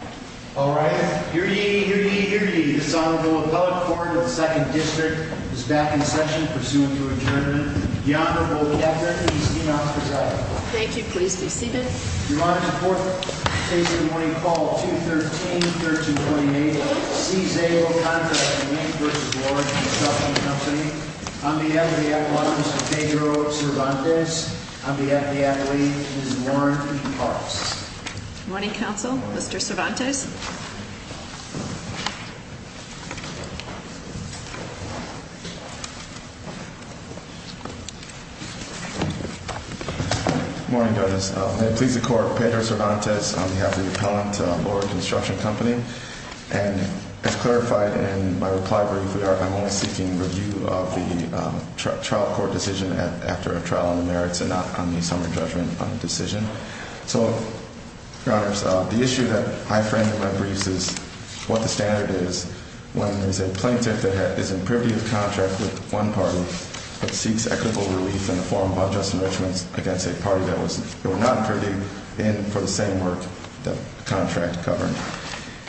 Here ye, here ye, here ye, this Honorable Appellate Court of the Second District is back in session pursuing to adjournment. The Honorable Captain and his team of presiding. Thank you, please be seated. Your Honor, the fourth case of the morning, call 213-1328 C. Szabo Contracting, Inc v. Loring Construction Company. On behalf of the applicants, Mr. Pedro Cervantes. On behalf of the athlete, Ms. Lauren P. Parks. Morning, Counsel. Mr. Cervantes. Morning, Judges. May it please the Court, Pedro Cervantes on behalf of the appellant, Loring Construction Company. And as clarified in my reply brief, I'm only seeking review of the trial court decision after a trial on the merits and not on the summary judgment decision. So, Your Honors, the issue that I framed in my briefs is what the standard is when there's a plaintiff that is in privy to the contract with one party, but seeks equitable relief in the form of unjust enrichments against a party that was not privy in for the same work the contract covered.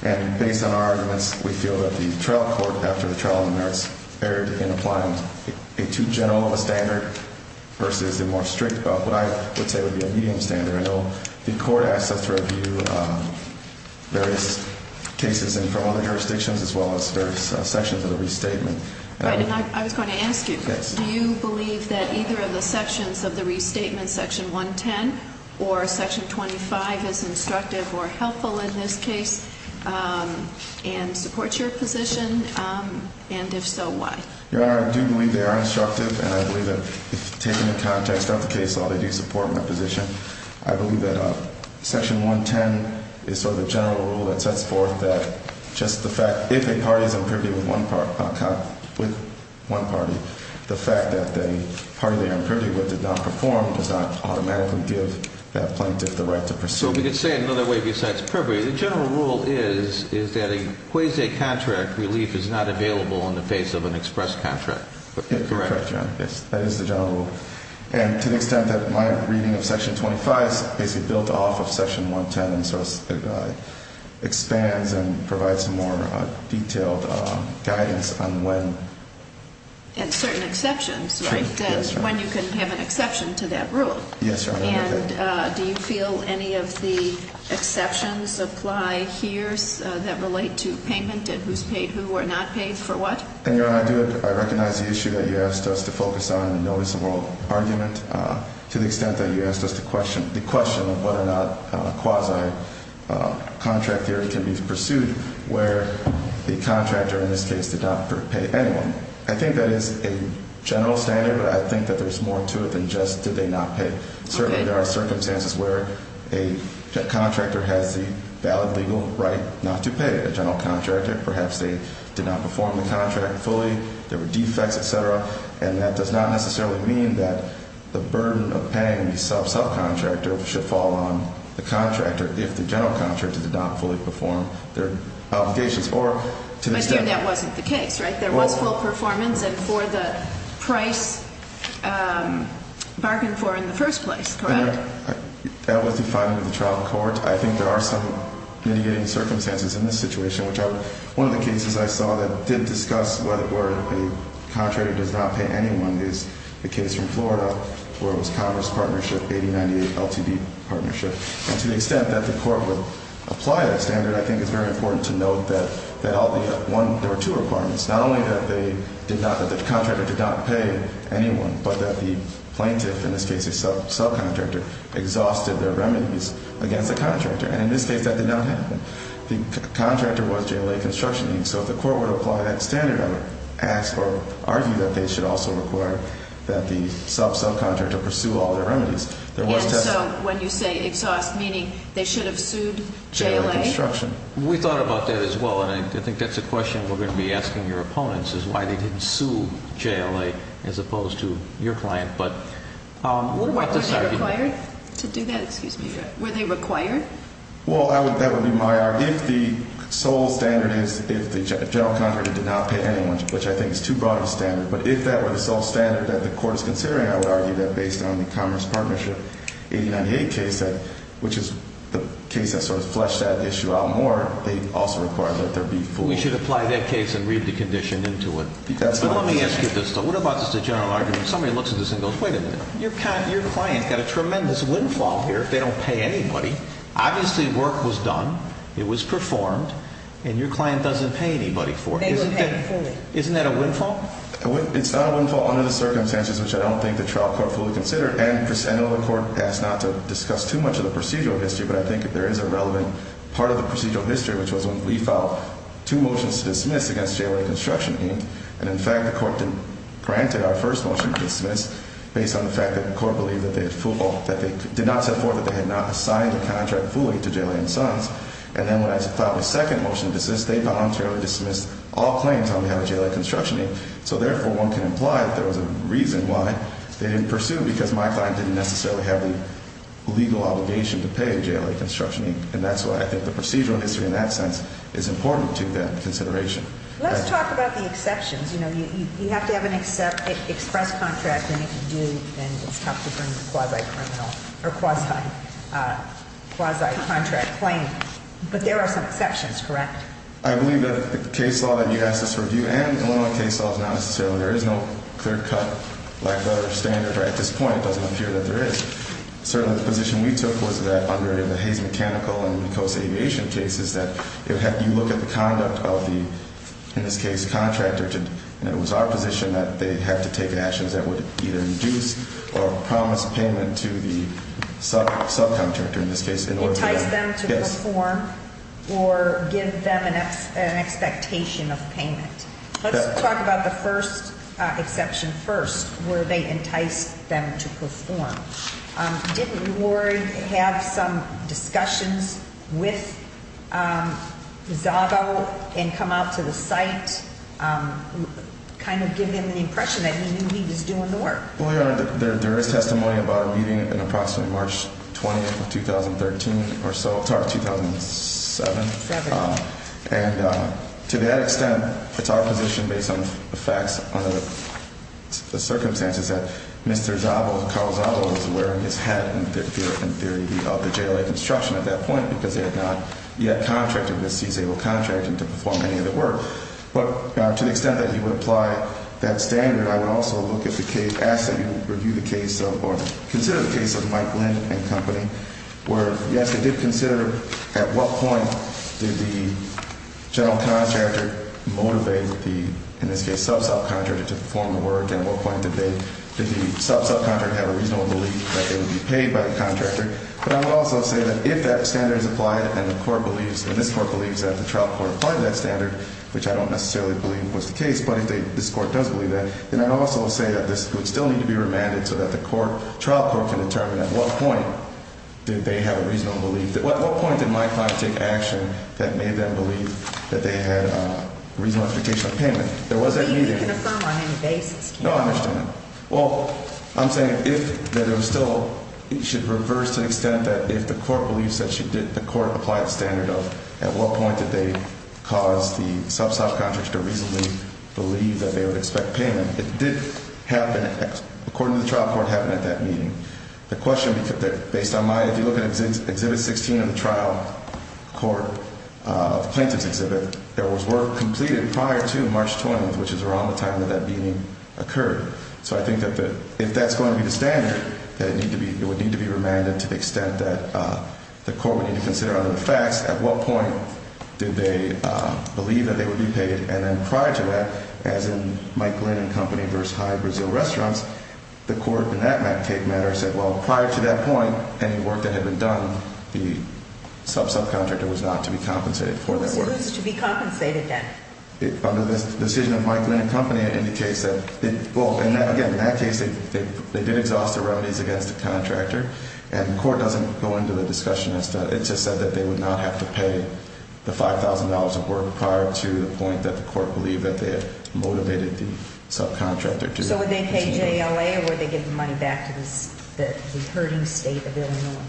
And based on our arguments, we feel that the trial court, after the trial on the merits, has fared in applying a too general of a standard versus a more strict, but what I would say would be a medium standard. I know the Court asked us to review various cases from other jurisdictions as well as various sections of the restatement. Right, and I was going to ask you, do you believe that either of the sections of the restatement, Section 110 or Section 25, is instructive or helpful in this case and supports your position? And if so, why? Your Honor, I do believe they are instructive, and I believe that, if taken in context, not the case law, they do support my position. I believe that Section 110 is sort of the general rule that sets forth that just the fact, if a party is in privy with one party, the fact that the party they are in privy with did not perform does not automatically give that plaintiff the right to proceed. So we could say it another way besides privy. The general rule is that a quasi-contract relief is not available in the face of an express contract. Correct, Your Honor. Yes. That is the general rule. And to the extent that my reading of Section 25 is basically built off of Section 110 and sort of expands and provides more detailed guidance on when. And certain exceptions, right? Yes, Your Honor. When you can have an exception to that rule. Yes, Your Honor. And do you feel any of the exceptions apply here that relate to payment and who's paid who or not paid for what? And, Your Honor, I do. I recognize the issue that you asked us to focus on in the noticeable argument to the extent that you asked us to question the question of whether or not a quasi-contract theory can be pursued where the contractor, in this case, did not pay anyone. I think that is a general standard, but I think that there's more to it than just did they not pay. Certainly, there are circumstances where a contractor has the valid legal right not to pay a general contractor. Perhaps they did not perform the contract fully. There were defects, et cetera. And that does not necessarily mean that the burden of paying the sub-subcontractor should fall on the contractor if the general contractor did not fully perform their obligations. Or to the extent that wasn't the case, right? There was full performance and for the price bargained for in the first place, correct? That was defined in the trial court. I think there are some mitigating circumstances in this situation. One of the cases I saw that did discuss whether or not a contractor does not pay anyone is the case from Florida where it was Congress partnership, 8098 LTD partnership, and to the extent that the court would apply that standard, I think it's very important to note that there are two requirements. Not only that the contractor did not pay anyone, but that the plaintiff, in this case a sub-subcontractor, exhausted their remedies against the contractor. And in this case, that did not happen. The contractor was JLA Construction. And so if the court would apply that standard, I would ask or argue that they should also require that the sub-subcontractor pursue all their remedies. There was testimony. And so when you say exhaust, meaning they should have sued JLA? JLA Construction. We thought about that as well. And I think that's a question we're going to be asking your opponents is why they didn't sue JLA as opposed to your client. But what does that mean? Were they required to do that? Excuse me. Were they required? Well, that would be my argument. The sole standard is if the general contractor did not pay anyone, which I think is too broad of a standard. But if that were the sole standard that the court is considering, I would argue that based on the Congress partnership 8098 case, which is the case that sort of fleshed that issue out more, they also require that there be full. We should apply that case and read the condition into it. But let me ask you this, though. What about just a general argument? Somebody looks at this and goes, wait a minute. Your client got a tremendous windfall here if they don't pay anybody. Obviously, work was done. It was performed. And your client doesn't pay anybody for it. They were paid fully. Isn't that a windfall? It's not a windfall under the circumstances which I don't think the trial court fully considered. And I know the court asked not to discuss too much of the procedural history. But I think there is a relevant part of the procedural history, which was when we filed two motions to dismiss against JLA Construction Inc. And, in fact, the court granted our first motion to dismiss based on the fact that the court believed that they did not set forth that they had not assigned a contract fully to JLA and Sons. And then when I filed a second motion to dismiss, they voluntarily dismissed all claims on behalf of JLA Construction Inc. So, therefore, one can imply that there was a reason why they didn't pursue because my client didn't necessarily have the legal obligation to pay JLA Construction Inc. And that's why I think the procedural history in that sense is important to that consideration. Let's talk about the exceptions. You know, you have to have an express contract and it's tough to bring a quasi-criminal or quasi-contract claim. But there are some exceptions, correct? I believe that the case law that you asked us to review and the Illinois case law is not necessarily – there is no clear-cut, lack-of-better standard at this point. It doesn't appear that there is. Certainly, the position we took was that under the Hayes Mechanical and Coast Aviation case is that you look at the conduct of the, in this case, contractor. And it was our position that they have to take actions that would either induce or promise payment to the subcontractor, in this case. Entice them to perform or give them an expectation of payment. Let's talk about the first exception first, where they enticed them to perform. Didn't Lord have some discussions with Zago and come out to the site, kind of give him the impression that he knew he was doing the work? Well, Your Honor, there is testimony about a meeting in approximately March 20th of 2013 or so – sorry, 2007. And to that extent, it's our position based on the facts, on the circumstances that Mr. Zago, Carl Zago, was wearing his hat in theory of the JLA construction at that point because they had not yet contracted, in this case, able to contract him to perform any of the work. But to the extent that you would apply that standard, I would also look at the case – ask that you review the case of or consider the case of Mike Lynn and Company, where, yes, they did consider at what point did the general contractor motivate the, in this case, sub-subcontractor to perform the work and what point did they – did the sub-subcontractor have a reasonable belief that they would be paid by the contractor? But I would also say that if that standard is applied and the court believes – and this court believes that the trial court applied that standard, which I don't necessarily believe was the case, but if this court does believe that, then I'd also say that this would still need to be remanded so that the trial court can determine at what point did they have a reasonable belief – at what point did my client take action that made them believe that they had a reasonable expectation of payment? There was that meeting. No, I understand. Well, I'm saying if – that it was still – it should reverse to the extent that if the court believes that she did – the court applied the standard of at what point did they cause the sub-subcontractor to reasonably believe that they would expect payment. It did happen – according to the trial court, it happened at that meeting. The question – based on my – if you look at Exhibit 16 of the trial court plaintiff's exhibit, there was work completed prior to March 20th, which is around the time that that meeting occurred. So I think that the – if that's going to be the standard, that it need to be – it would need to be remanded to the extent that the court would need to consider under the facts at what point did they believe that they would be paid. And then prior to that, as in Mike Glenn and Company versus Hyde Brazil Restaurants, the court in that matter said, well, prior to that point, any work that had been done, the sub-subcontractor was not to be compensated for that work. Who's to be compensated then? Under this decision of Mike Glenn and Company, it indicates that – well, again, in that case, they did exhaust the remedies against the contractor, and the court doesn't go into the discussion as to – it just said that they would not have to pay the $5,000 of work prior to the point that the court believed that they had motivated the sub-contractor to. So would they pay JLA or would they give the money back to the hurting state of Illinois?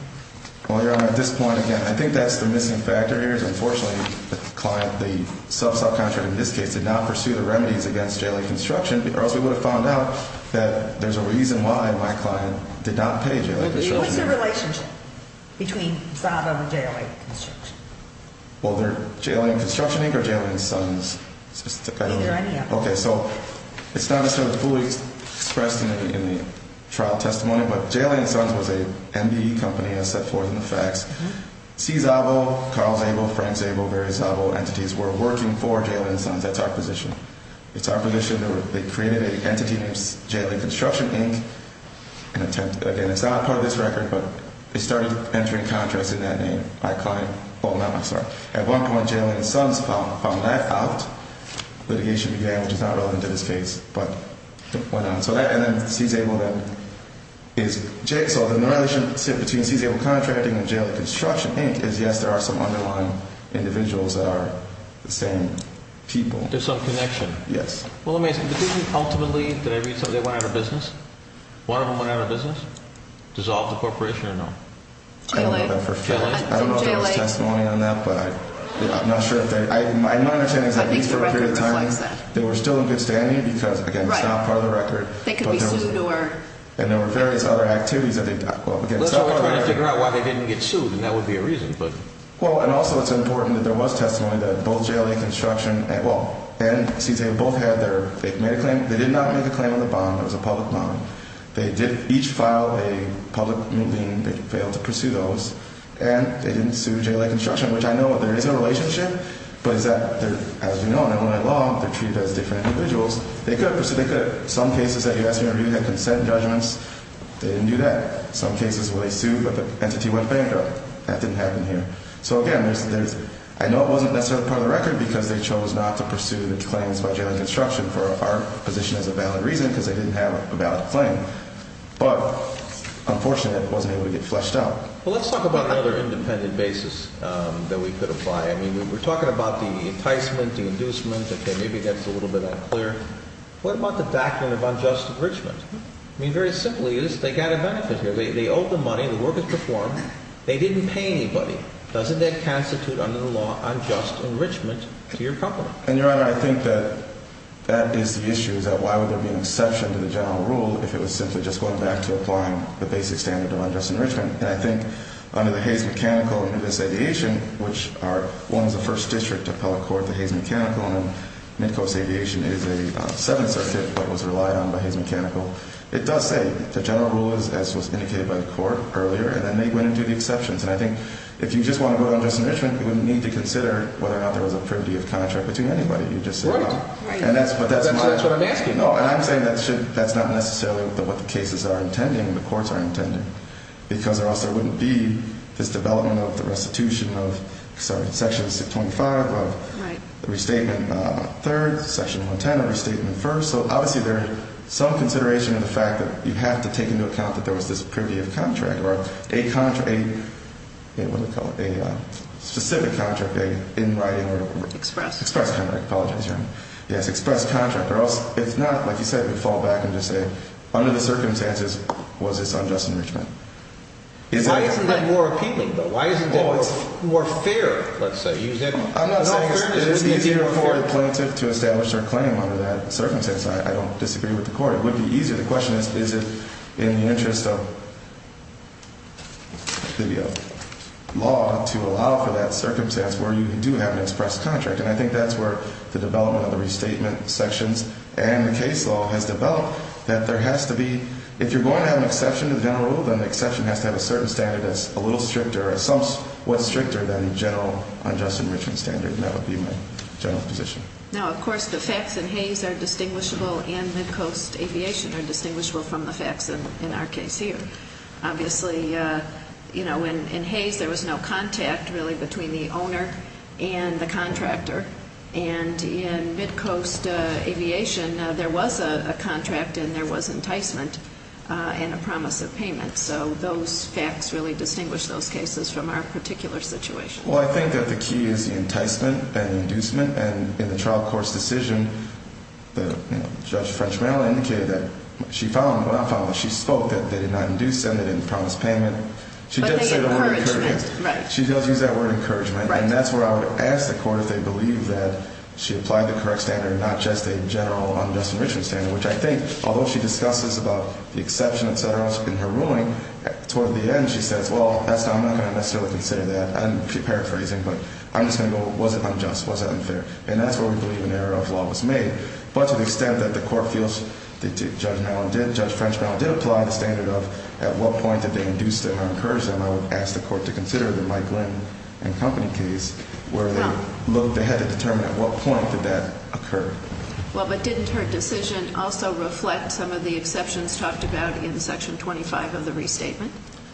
Well, Your Honor, at this point, again, I think that's the missing factor here. Unfortunately, the client – the sub-subcontractor in this case did not pursue the remedies against JLA Construction or else we would have found out that there's a reason why my client did not pay JLA Construction. What's the relationship between Zava and JLA Construction? Well, they're – JLA and Construction Inc. or JLA and Sons? Either any of them. Okay, so it's not necessarily fully expressed in the trial testimony, but JLA and Sons was an MBE company as set forth in the facts. C. Zavo, Carl Zavo, Frank Zavo, various Zavo entities were working for JLA and Sons. That's our position. It's our position that they created an entity named JLA Construction Inc. and attempted – again, it's not part of this record, but they started entering contracts in that name by a client. At one point, JLA and Sons found that out. Litigation began, which is not relevant to this case, but it went on. So that – and then C. Zavo then is – so the relationship between C. Zavo Contracting and JLA Construction Inc. is yes, there are some underlying individuals that are the same people. There's some connection. Yes. Well, let me ask you, did they ultimately – did they reach – they went out of business? One of them went out of business? Dissolved the corporation or no? JLA. I don't know if there was testimony on that, but I'm not sure if they – my understanding is that at least for a period of time, they were still in good standing because, again, it's not part of the record. They could be sued or – And there were various other activities that they – well, again – Let's try to figure out why they didn't get sued, and that would be a reason, but – Well, and also it's important that there was testimony that both JLA Construction – well, and C. Zavo both had their – they made a claim – they did not make a claim on the bond. It was a public bond. They did each file a public moving – they failed to pursue those, and they didn't sue JLA Construction, which I know there is a relationship, but is that they're – as we know in Illinois law, they're treated as different individuals. They could have pursued – they could have – some cases that you asked me, I really had consent judgments. They didn't do that. Some cases where they sued, but the entity went bankrupt. That didn't happen here. So, again, there's – I know it wasn't necessarily part of the record because they chose not to pursue the claims by JLA Construction for our position as a valid reason because they didn't have a valid claim, but, unfortunately, it wasn't able to get fleshed out. Well, let's talk about another independent basis that we could apply. I mean, we're talking about the enticement, the inducement. Okay, maybe that's a little bit unclear. What about the doctrine of unjust enrichment? I mean, very simply, they got a benefit here. They owed the money, the work was performed. They didn't pay anybody. Doesn't that constitute, under the law, unjust enrichment to your property? And, Your Honor, I think that that is the issue, is that why would there be an exception to the general rule if it was simply just going back to applying the basic standard of unjust enrichment? And I think under the Hays Mechanical and Midcoast Aviation, which are – one is the first district to appeal a court to Hays Mechanical, and then Midcoast Aviation is a Seventh Circuit but was relied on by Hays Mechanical, it does say the general rule is, as was indicated by the court earlier, and then they went and did the exceptions. And I think if you just want to go down unjust enrichment, you wouldn't need to consider whether or not there was a privity of contract between anybody. You just say no. Right. But that's what I'm asking. No, and I'm saying that's not necessarily what the cases are intending, the courts are intending, because or else there wouldn't be this development of the restitution of Section 625, restatement third, Section 110, restatement first. So obviously there is some consideration in the fact that you have to take into account that there was this privity of contract or a specific contract in writing. Express. Express contract. Apologize, Your Honor. Yes, express contract. Or else if not, like you said, it would fall back and just say under the circumstances was this unjust enrichment. Why isn't that more appealing though? Why isn't that more fair, let's say? I'm not saying it's easier for a plaintiff to establish their claim under that circumstance. I don't disagree with the court. It would be easier. The question is, is it in the interest of the law to allow for that circumstance where you do have an express contract? And I think that's where the development of the restatement sections and the case law has developed that there has to be, if you're going to have an exception to the general rule, then the exception has to have a certain standard that's a little stricter or assumes what's stricter than general unjust enrichment standard. And that would be my general position. Now, of course, the facts in Hayes are distinguishable and Midcoast Aviation are distinguishable from the facts in our case here. Obviously, you know, in Hayes there was no contact really between the owner and the contractor. And in Midcoast Aviation there was a contract and there was enticement and a promise of payment. So those facts really distinguish those cases from our particular situation. Well, I think that the key is the enticement and the inducement. And in the trial court's decision, the judge, French Merrill, indicated that she found, what I found, that she spoke that they did not induce them, they didn't promise payment. But they encouraged them. She did say the word encouragement. Right. She does use that word encouragement. Right. And that's where I would ask the court if they believe that she applied the correct standard and not just a general unjust enrichment standard, which I think, although she discusses about the exception, et cetera, in her ruling, toward the end she says, well, I'm not going to necessarily consider that. I'm paraphrasing. But I'm just going to go, was it unjust? Was it unfair? And that's where we believe an error of law was made. But to the extent that the court feels Judge Merrill did, Judge French Merrill did apply the standard of at what point did they induce them or encourage them, I would ask the court to consider the Mike Glenn and company case where they had to determine at what point did that occur. Well, but didn't her decision also reflect some of the exceptions talked about in Section 25 of the restatement?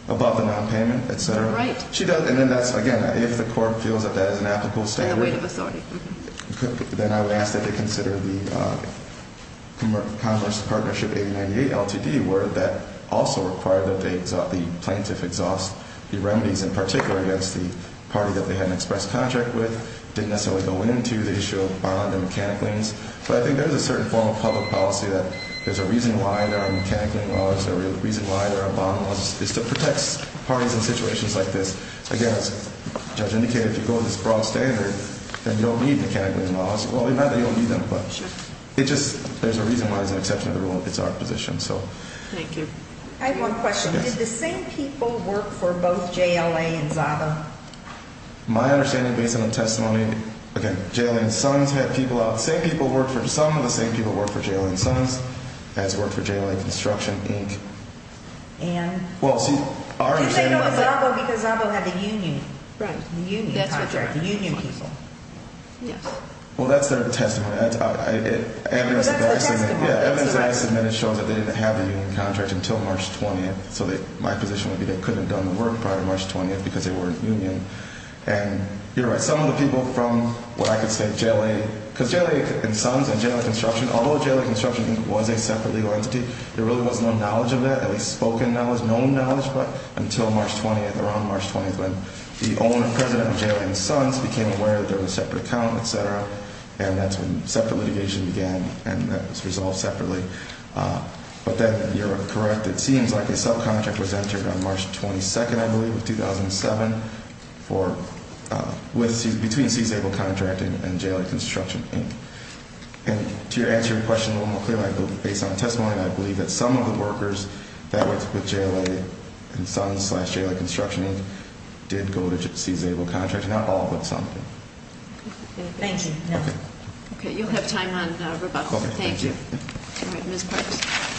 Above the nonpayment, et cetera. Right. She does. And then that's, again, if the court feels that that is an applicable standard. And the weight of authority. Then I would ask that they consider the Congress Partnership 898 LTD where that also required that the plaintiff exhaust the remedies, in particular against the party that they had an express contract with, didn't necessarily go into the issue of bond and mechanic liens. But I think there's a certain form of public policy that there's a reason why there are mechanic lien laws. There's a reason why there are bond laws. It's to protect parties in situations like this. Again, as the judge indicated, if you go with this broad standard, then you don't need mechanic lien laws. Well, not that you don't need them, but it just, there's a reason why it's an exception to the rule if it's our position. Thank you. I have one question. Yes. Did the same people work for both JLA and ZABA? My understanding, based on the testimony, again, JLA and SONS had people out. Some of the same people worked for JLA and SONS as worked for JLA Construction, Inc. Did they know it was ZABA because ZABA had the union? Right. The union contract. The union people. Yes. Well, that's their testimony. That's the testimony. Yeah, evidence that I submitted shows that they didn't have the union contract until March 20th. So my position would be they couldn't have done the work prior to March 20th because they were in union. And you're right. Some of the people from what I could say, JLA, because JLA and SONS and JLA Construction, although JLA Construction was a separate legal entity, there really was no knowledge of that, at least spoken knowledge, known knowledge, but until March 20th, around March 20th, when the owner and president of JLA and SONS became aware that there was a separate account, et cetera, and that's when separate litigation began and that was resolved separately. But then you're correct. It seems like a subcontract was entered on March 22nd, I believe, of 2007 between CZABLE Contracting and JLA Construction, and to answer your question a little more clearly based on testimony, I believe that some of the workers that worked with JLA and SONS slash JLA Construction did go to CZABLE Contracting. Not all, but some. Thank you. Okay. Okay. You'll have time on rebuttal. Okay. Thank you. All right. Thank you, Ms. Parks.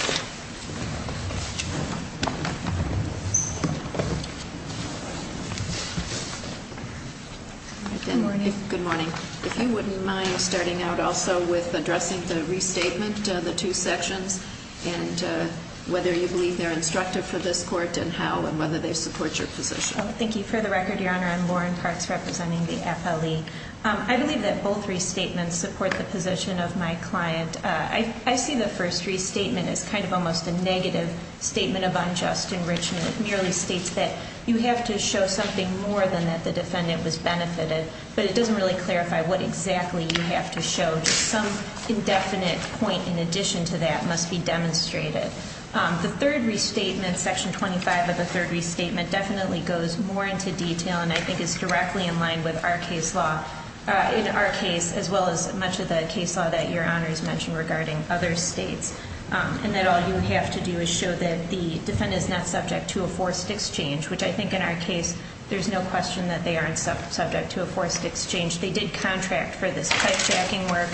Good morning. Good morning. If you wouldn't mind starting out also with addressing the restatement, the two sections, and whether you believe they're instructive for this court and how and whether they support your position. Thank you. For the record, Your Honor, I'm Lauren Parks representing the FLE. I believe that both restatements support the position of my client. I see the first restatement as kind of almost a negative statement of unjust enrichment. It merely states that you have to show something more than that the defendant was benefited, but it doesn't really clarify what exactly you have to show. Some indefinite point in addition to that must be demonstrated. The third restatement, Section 25 of the third restatement, definitely goes more into detail and I think is directly in line with our case law, in our case, as well as much of the case law that Your Honor has mentioned regarding other states, and that all you have to do is show that the defendant is not subject to a forced exchange, which I think in our case there's no question that they aren't subject to a forced exchange. They did contract for this pipe jacking work.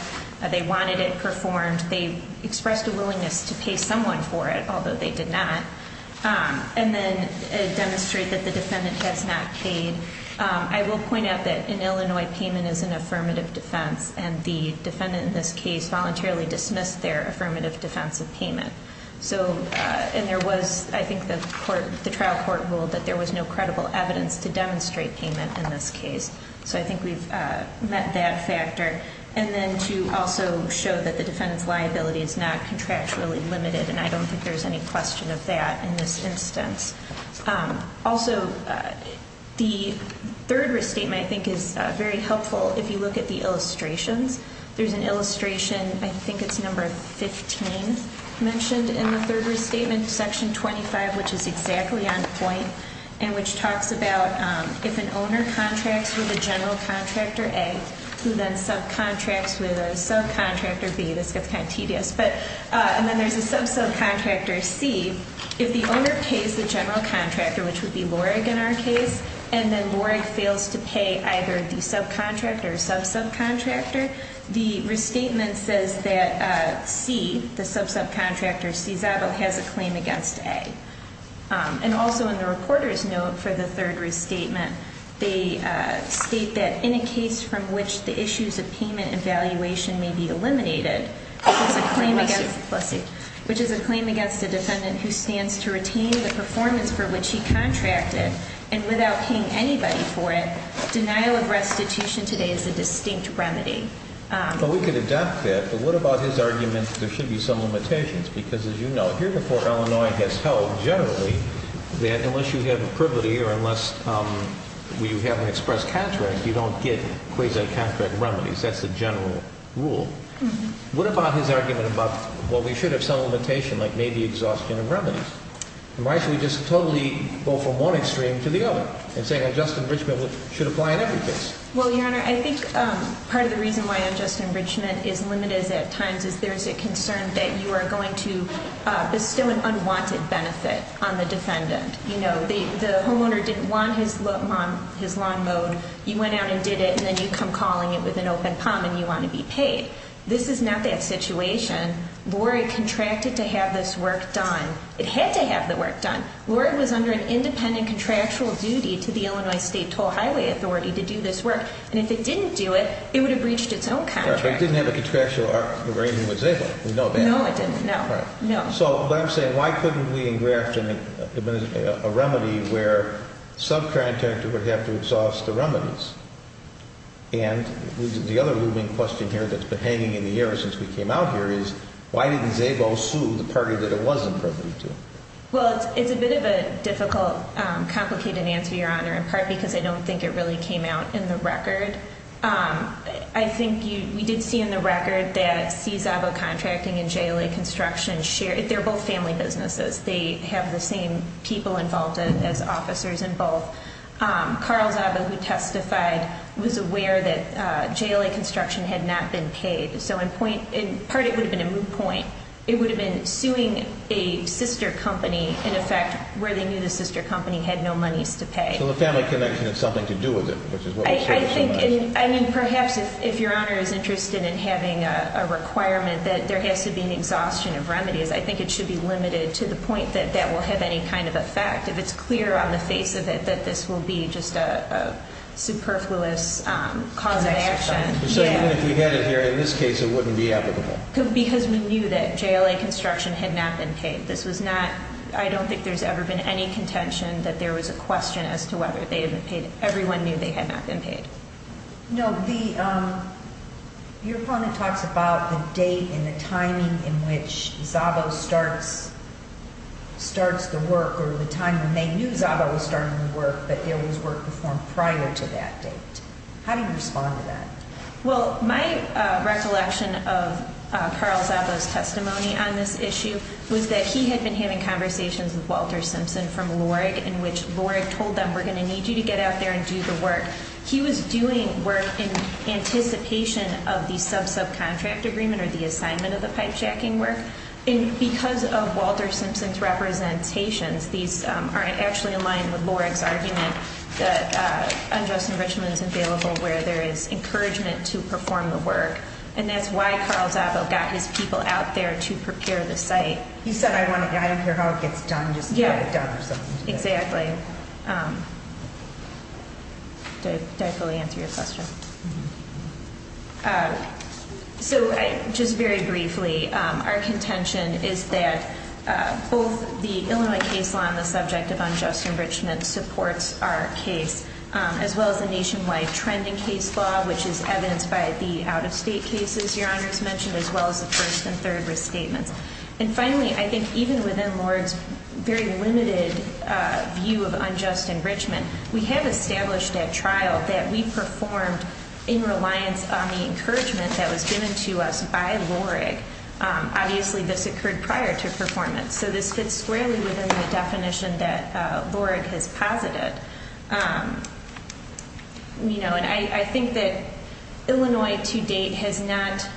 They wanted it performed. They expressed a willingness to pay someone for it, although they did not, and then demonstrate that the defendant has not paid. I will point out that an Illinois payment is an affirmative defense, and the defendant in this case voluntarily dismissed their affirmative defense of payment. And there was, I think the trial court ruled that there was no credible evidence to demonstrate payment in this case. So I think we've met that factor. And then to also show that the defendant's liability is not contractually limited, and I don't think there's any question of that in this instance. Also, the third restatement I think is very helpful if you look at the illustrations. There's an illustration, I think it's number 15, mentioned in the third restatement, section 25, which is exactly on point and which talks about if an owner contracts with a general contractor, A, who then subcontracts with a subcontractor, B. This gets kind of tedious. And then there's a sub-subcontractor, C. If the owner pays the general contractor, which would be Lorig in our case, and then Lorig fails to pay either the subcontractor or sub-subcontractor, the restatement says that C, the sub-subcontractor, Czabo, has a claim against A. And also in the reporter's note for the third restatement, they state that in a case from which the issues of payment and valuation may be eliminated, which is a claim against a defendant who stands to retain the performance for which he contracted, and without paying anybody for it, denial of restitution today is a distinct remedy. Well, we could adopt that, but what about his argument that there should be some limitations? Because, as you know, here before Illinois has held generally that unless you have a privilege or unless you have an express contract, you don't get quasi-contract remedies. That's the general rule. What about his argument about, well, we should have some limitation, like maybe exhaustion of remedies? Why should we just totally go from one extreme to the other in saying a just enrichment should apply in every case? Well, Your Honor, I think part of the reason why a just enrichment is limited at times is there's a concern that you are going to bestow an unwanted benefit on the defendant. You know, the homeowner didn't want his lawn mowed. You went out and did it, and then you come calling it with an open pump, and you want to be paid. This is not that situation. Lori contracted to have this work done. It had to have the work done. Lori was under an independent contractual duty to the Illinois State Toll Highway Authority to do this work. And if it didn't do it, it would have breached its own contract. But it didn't have a contractual arrangement with Zabo. We know that. No, it didn't. No. So what I'm saying, why couldn't we engraft a remedy where subcontractor would have to exhaust the remedies? And the other looming question here that's been hanging in the air since we came out here is, why didn't Zabo sue the party that it was appropriate to? Well, it's a bit of a difficult, complicated answer, Your Honor, in part because I don't think it really came out in the record. I think we did see in the record that C. Zabo Contracting and JLA Construction, they're both family businesses. They have the same people involved as officers in both. Carl Zabo, who testified, was aware that JLA Construction had not been paid. So in part it would have been a moot point. It would have been suing a sister company, in effect, where they knew the sister company had no monies to pay. So the family connection has something to do with it, which is what we've heard so much. I mean, perhaps if Your Honor is interested in having a requirement that there has to be an exhaustion of remedies, I think it should be limited to the point that that will have any kind of effect. If it's clear on the face of it that this will be just a superfluous cause of action. So even if we had it here, in this case it wouldn't be applicable. Because we knew that JLA Construction had not been paid. This was not, I don't think there's ever been any contention that there was a question as to whether they had been paid. Everyone knew they had not been paid. No, your opponent talks about the date and the timing in which Zabo starts the work, or the time when they knew Zabo was starting the work, but there was work performed prior to that date. How do you respond to that? Well, my recollection of Carl Zabo's testimony on this issue was that he had been having conversations with Walter Simpson from LORIG, in which LORIG told them, we're going to need you to get out there and do the work. He was doing work in anticipation of the sub-subcontract agreement or the assignment of the pipe jacking work. And because of Walter Simpson's representations, these are actually in line with LORIG's argument that unjust enrichment is available where there is encouragement to perform the work. And that's why Carl Zabo got his people out there to prepare the site. He said, I don't care how it gets done, just get it done or something. Exactly. Did I fully answer your question? So just very briefly, our contention is that both the Illinois case law on the subject of unjust enrichment supports our case, as well as the nationwide trending case law, which is evidenced by the out-of-state cases Your Honor has mentioned, as well as the first and third risk statements. And finally, I think even within LORIG's very limited view of unjust enrichment, we have established at trial that we performed in reliance on the encouragement that was given to us by LORIG. Obviously, this occurred prior to performance. So this fits squarely within the definition that LORIG has posited. And I think that Illinois to date has not,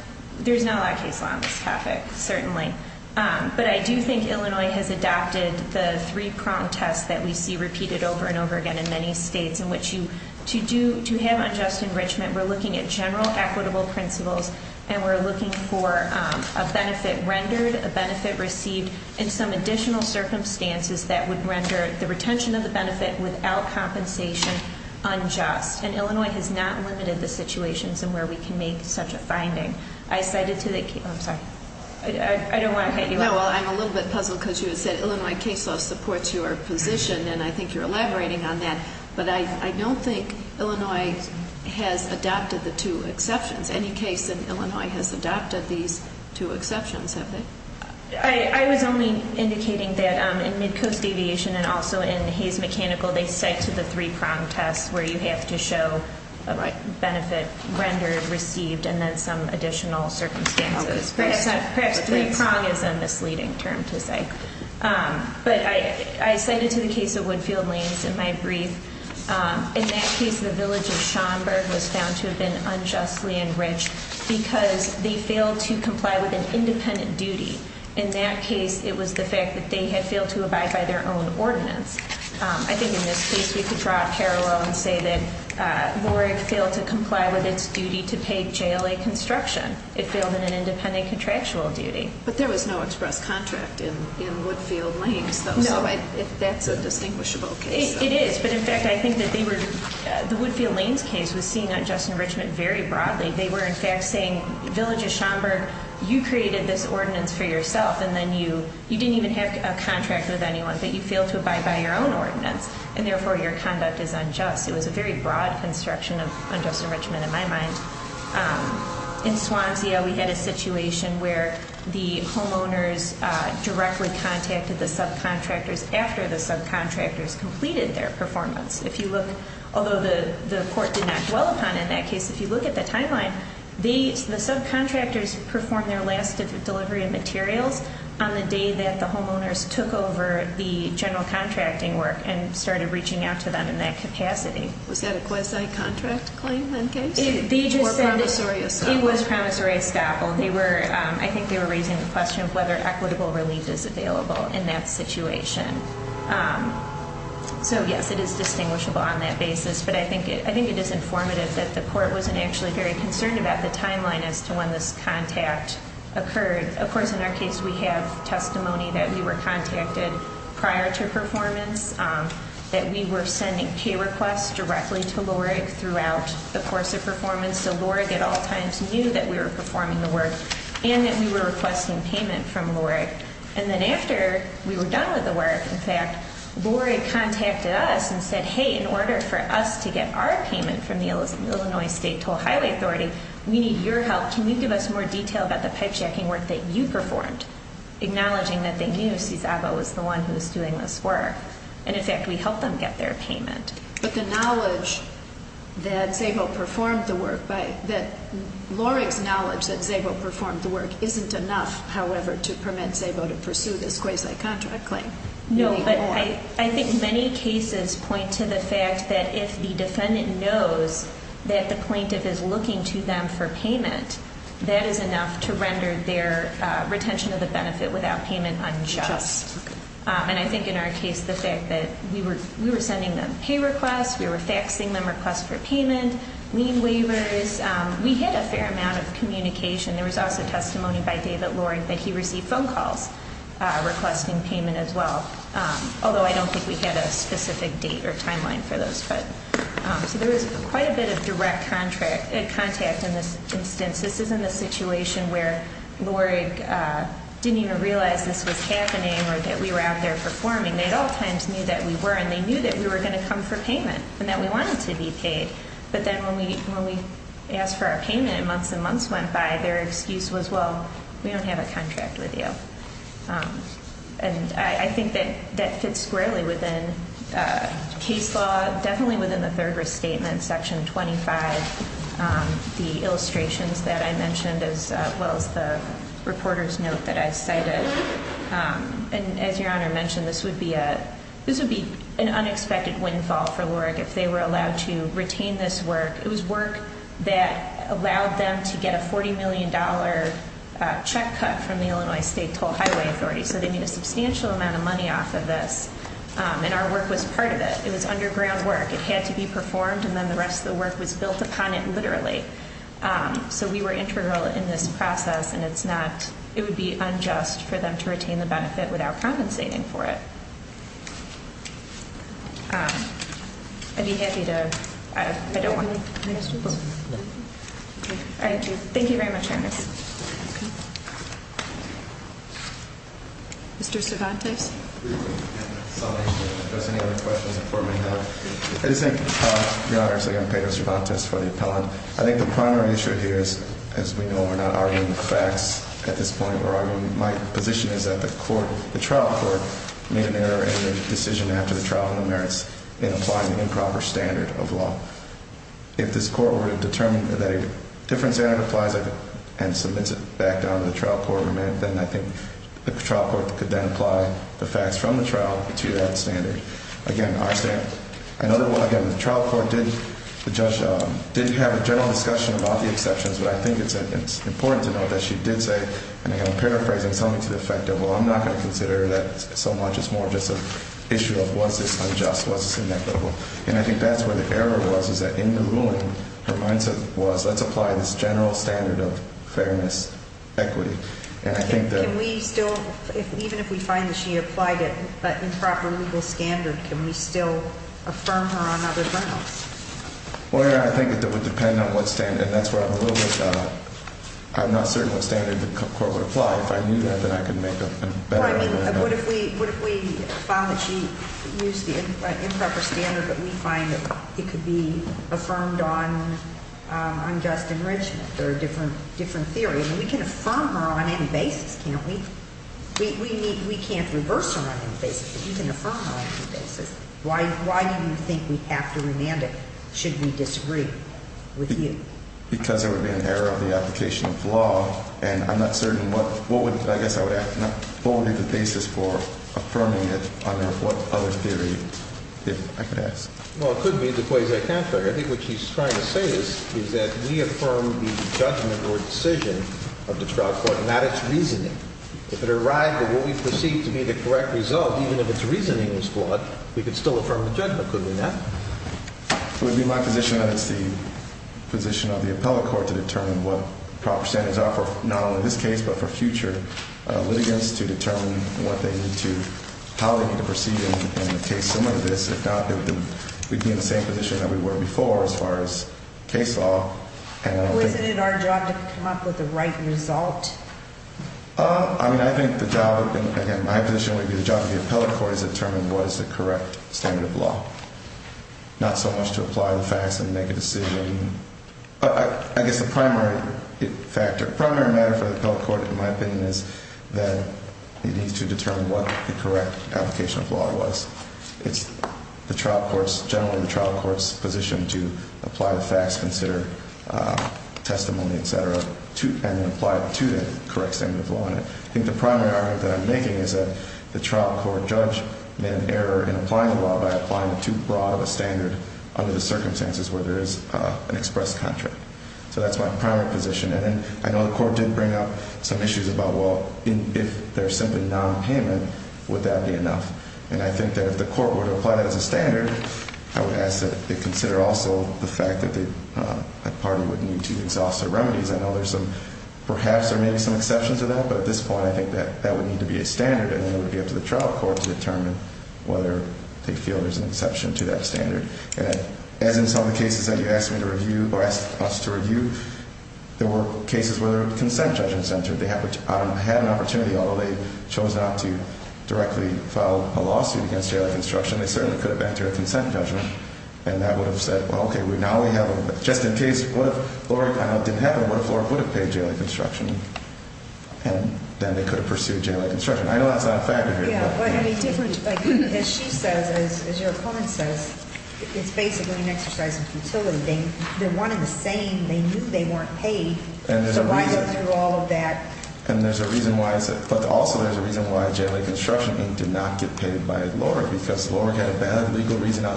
there's not a lot of case law on this topic, certainly. But I do think Illinois has adopted the three-prong test that we see repeated over and over again in many states, in which to have unjust enrichment, we're looking at general equitable principles, and we're looking for a benefit rendered, a benefit received, and some additional circumstances that would render the retention of the benefit without compensation unjust. And Illinois has not limited the situations in where we can make such a finding. I cited to the case, I'm sorry, I don't want to hit you. No, well, I'm a little bit puzzled because you had said Illinois case law supports your position, and I think you're elaborating on that. But I don't think Illinois has adopted the two exceptions. Any case in Illinois has adopted these two exceptions, have they? I was only indicating that in Midcoast Aviation and also in Hayes Mechanical, they cite to the three-prong test where you have to show a benefit rendered, received, and then some additional circumstances. Perhaps three-prong is a misleading term to say. But I cited to the case of Woodfield Lanes in my brief. In that case, the village of Schaumburg was found to have been unjustly enriched because they failed to comply with an independent duty. In that case, it was the fact that they had failed to abide by their own ordinance. I think in this case we could draw a parallel and say that LORG failed to comply with its duty to pay JLA construction. It failed in an independent contractual duty. But there was no express contract in Woodfield Lanes, though. No, that's a distinguishable case. It is, but in fact, I think that the Woodfield Lanes case was seen unjust enrichment very broadly. They were, in fact, saying, village of Schaumburg, you created this ordinance for yourself, and then you didn't even have a contract with anyone, but you failed to abide by your own ordinance, and therefore your conduct is unjust. It was a very broad construction of unjust enrichment in my mind. In Swansea, we had a situation where the homeowners directly contacted the subcontractors after the subcontractors completed their performance. Although the court did not dwell upon it in that case, if you look at the timeline, the subcontractors performed their last delivery of materials on the day that the homeowners took over the general contracting work and started reaching out to them in that capacity. Was that a quasi-contract claim in that case? It was promissory estoppel. I think they were raising the question of whether equitable relief is available in that situation. So, yes, it is distinguishable on that basis, but I think it is informative that the court wasn't actually very concerned about the timeline as to when this contact occurred. Of course, in our case, we have testimony that we were contacted prior to performance, that we were sending pay requests directly to LORIG throughout the course of performance, so LORIG at all times knew that we were performing the work and that we were requesting payment from LORIG. And then after we were done with the work, in fact, LORIG contacted us and said, Hey, in order for us to get our payment from the Illinois State Toll Highway Authority, we need your help. Can you give us more detail about the pipe-shacking work that you performed? Acknowledging that they knew Cizabo was the one who was doing this work. And, in fact, we helped them get their payment. But the knowledge that Cizabo performed the work, that LORIG's knowledge that Cizabo performed the work isn't enough, however, to permit Cizabo to pursue this quasi-contract claim. No, but I think many cases point to the fact that if the defendant knows that the plaintiff is looking to them for payment, that is enough to render their retention of the benefit without payment unjust. And I think in our case, the fact that we were sending them pay requests, we were faxing them requests for payment, lien waivers, we had a fair amount of communication. There was also testimony by David LORIG that he received phone calls requesting payment as well, although I don't think we had a specific date or timeline for those. So there was quite a bit of direct contact in this instance. This isn't a situation where LORIG didn't even realize this was happening or that we were out there performing. They at all times knew that we were, and they knew that we were going to come for payment and that we wanted to be paid. But then when we asked for our payment and months and months went by, their excuse was, well, we don't have a contract with you. And I think that that fits squarely within case law, definitely within the third restatement, Section 25, the illustrations that I mentioned as well as the reporter's note that I cited. And as Your Honor mentioned, this would be an unexpected windfall for LORIG if they were allowed to retain this work. It was work that allowed them to get a $40 million check cut from the Illinois State Toll Highway Authority. So they made a substantial amount of money off of this, and our work was part of it. It was underground work. It had to be performed, and then the rest of the work was built upon it literally. So we were integral in this process, and it's not, it would be unjust for them to retain the benefit without compensating for it. I'd be happy to, I don't want to. Thank you very much, Your Honor. Mr. Cervantes? I just think, Your Honor, so again, Pedro Cervantes for the appellant. I think the primary issue here is, as we know, we're not arguing the facts at this point. We're arguing, my position is that the trial court made an error in the decision after the trial on the merits in applying the improper standard of law. If this court were to determine that a different standard applies and submits it back down to the trial court, then I think the trial court could then apply the facts from the trial to that standard. Again, our standard. Another one, again, the trial court did have a general discussion about the exceptions, but I think it's important to note that she did say, and again, I'm paraphrasing something to the effect of, well, I'm not going to consider that so much as more just an issue of was this unjust, was this inequitable. And I think that's where the error was, is that in the ruling, her mindset was, let's apply this general standard of fairness, equity, and I think that- Can we still, even if we find that she applied it, that improper legal standard, can we still affirm her on other grounds? Well, Your Honor, I think it would depend on what standard, and that's where I'm a little bit, I'm not certain what standard the court would apply. If I knew that, then I could make a better argument. Well, I mean, what if we found that she used the improper standard, but we find that it could be affirmed on unjust enrichment, or a different theory? I mean, we can affirm her on any basis, can't we? We can't reverse her on any basis, but we can affirm her on any basis. Why do you think we have to remand it, should we disagree with you? Because there would be an error of the application of law, and I'm not certain what, I guess I would ask, what would be the basis for affirming it under what other theory, if I could ask? Well, it could be the quasi-contrary. I think what she's trying to say is that we affirm the judgment or decision of the trial court, not its reasoning. If it arrived at what we perceived to be the correct result, even if its reasoning was flawed, we could still affirm the judgment, could we not? It would be my position that it's the position of the appellate court to determine what proper standards are for not only this case, but for future litigants to determine what they need to, how they need to proceed in a case similar to this. If not, we'd be in the same position that we were before as far as case law. Wasn't it our job to come up with the right result? I mean, I think the job, again, my position would be the job of the appellate court is to determine what is the correct standard of law. Not so much to apply the facts and make a decision. I guess the primary factor, primary matter for the appellate court, in my opinion, is that it needs to determine what the correct application of law was. It's the trial court's, generally the trial court's position to apply the facts, consider testimony, et cetera, and then apply it to the correct standard of law. I think the primary argument that I'm making is that the trial court judge made an error in applying the law by applying it too broad of a standard under the circumstances where there is an express contract. So that's my primary position. And then I know the court did bring up some issues about, well, if there's simply nonpayment, would that be enough? And I think that if the court were to apply that as a standard, I would ask that they consider also the fact that a party would need to exhaust their remedies. I know there's some, perhaps or maybe some exceptions to that, but at this point I think that that would need to be a standard and then it would be up to the trial court to determine whether they feel there's an exception to that standard. And as in some of the cases that you asked me to review or asked us to review, there were cases where there were consent judgments entered. They had an opportunity, although they chose not to directly file a lawsuit against J.I. Construction, they certainly could have entered a consent judgment, and that would have said, well, okay, now we have a, just in case, what if LORC didn't have it, what if LORC would have paid J.I. Construction? And then they could have pursued J.I. Construction. I know that's not a factor here. Yeah, but I mean, as she says, as your opponent says, it's basically an exercise of futility. They wanted the same. They knew they weren't paid. And there's a reason. So why go through all of that? And there's a reason why. But also there's a reason why J.I. Construction did not get paid by LORC because LORC had a valid legal reason not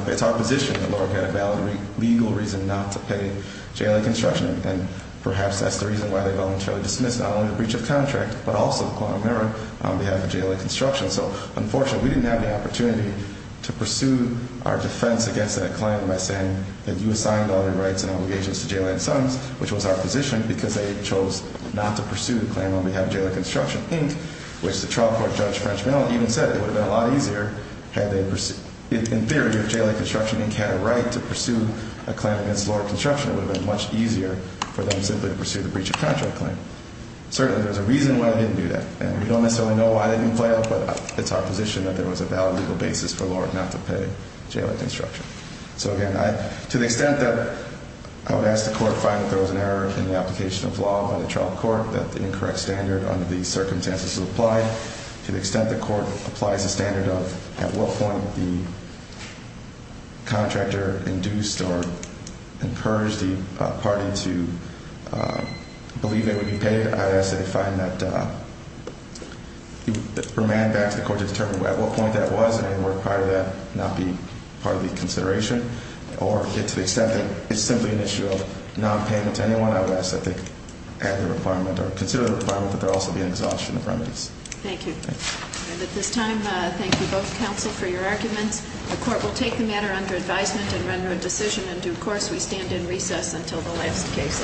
to pay. J.I. Construction, and perhaps that's the reason why they voluntarily dismissed not only the breach of contract, but also the claim of merit on behalf of J.I. Construction. So, unfortunately, we didn't have the opportunity to pursue our defense against that claim by saying that you assigned all your rights and obligations to J.I. and Sons, which was our position, because they chose not to pursue the claim on behalf of J.I. Construction, which the trial court judge, French Manon, even said it would have been a lot easier had they, in theory, if J.I. Construction Inc. had a right to pursue a claim against LORC Construction, it would have been much easier for them simply to pursue the breach of contract claim. Certainly, there's a reason why they didn't do that. And we don't necessarily know why they didn't fail, but it's our position that there was a valid legal basis for LORC not to pay J.I. Construction. So, again, to the extent that I would ask the court to find that there was an error in the application of law by the trial court, that the incorrect standard under these circumstances is applied, to the extent the court applies the standard of at what point the contractor induced or encouraged the party to believe they would be paid, I would ask that they find that, remand back to the court to determine at what point that was, and any work prior to that not be part of the consideration, or to the extent that it's simply an issue of nonpayment to anyone, I would ask that they consider the requirement that there also be an exhaustion of remedies. Thank you. And at this time, I thank you both, counsel, for your arguments. The court will take the matter under advisement and render a decision in due course. We stand in recess until the last case.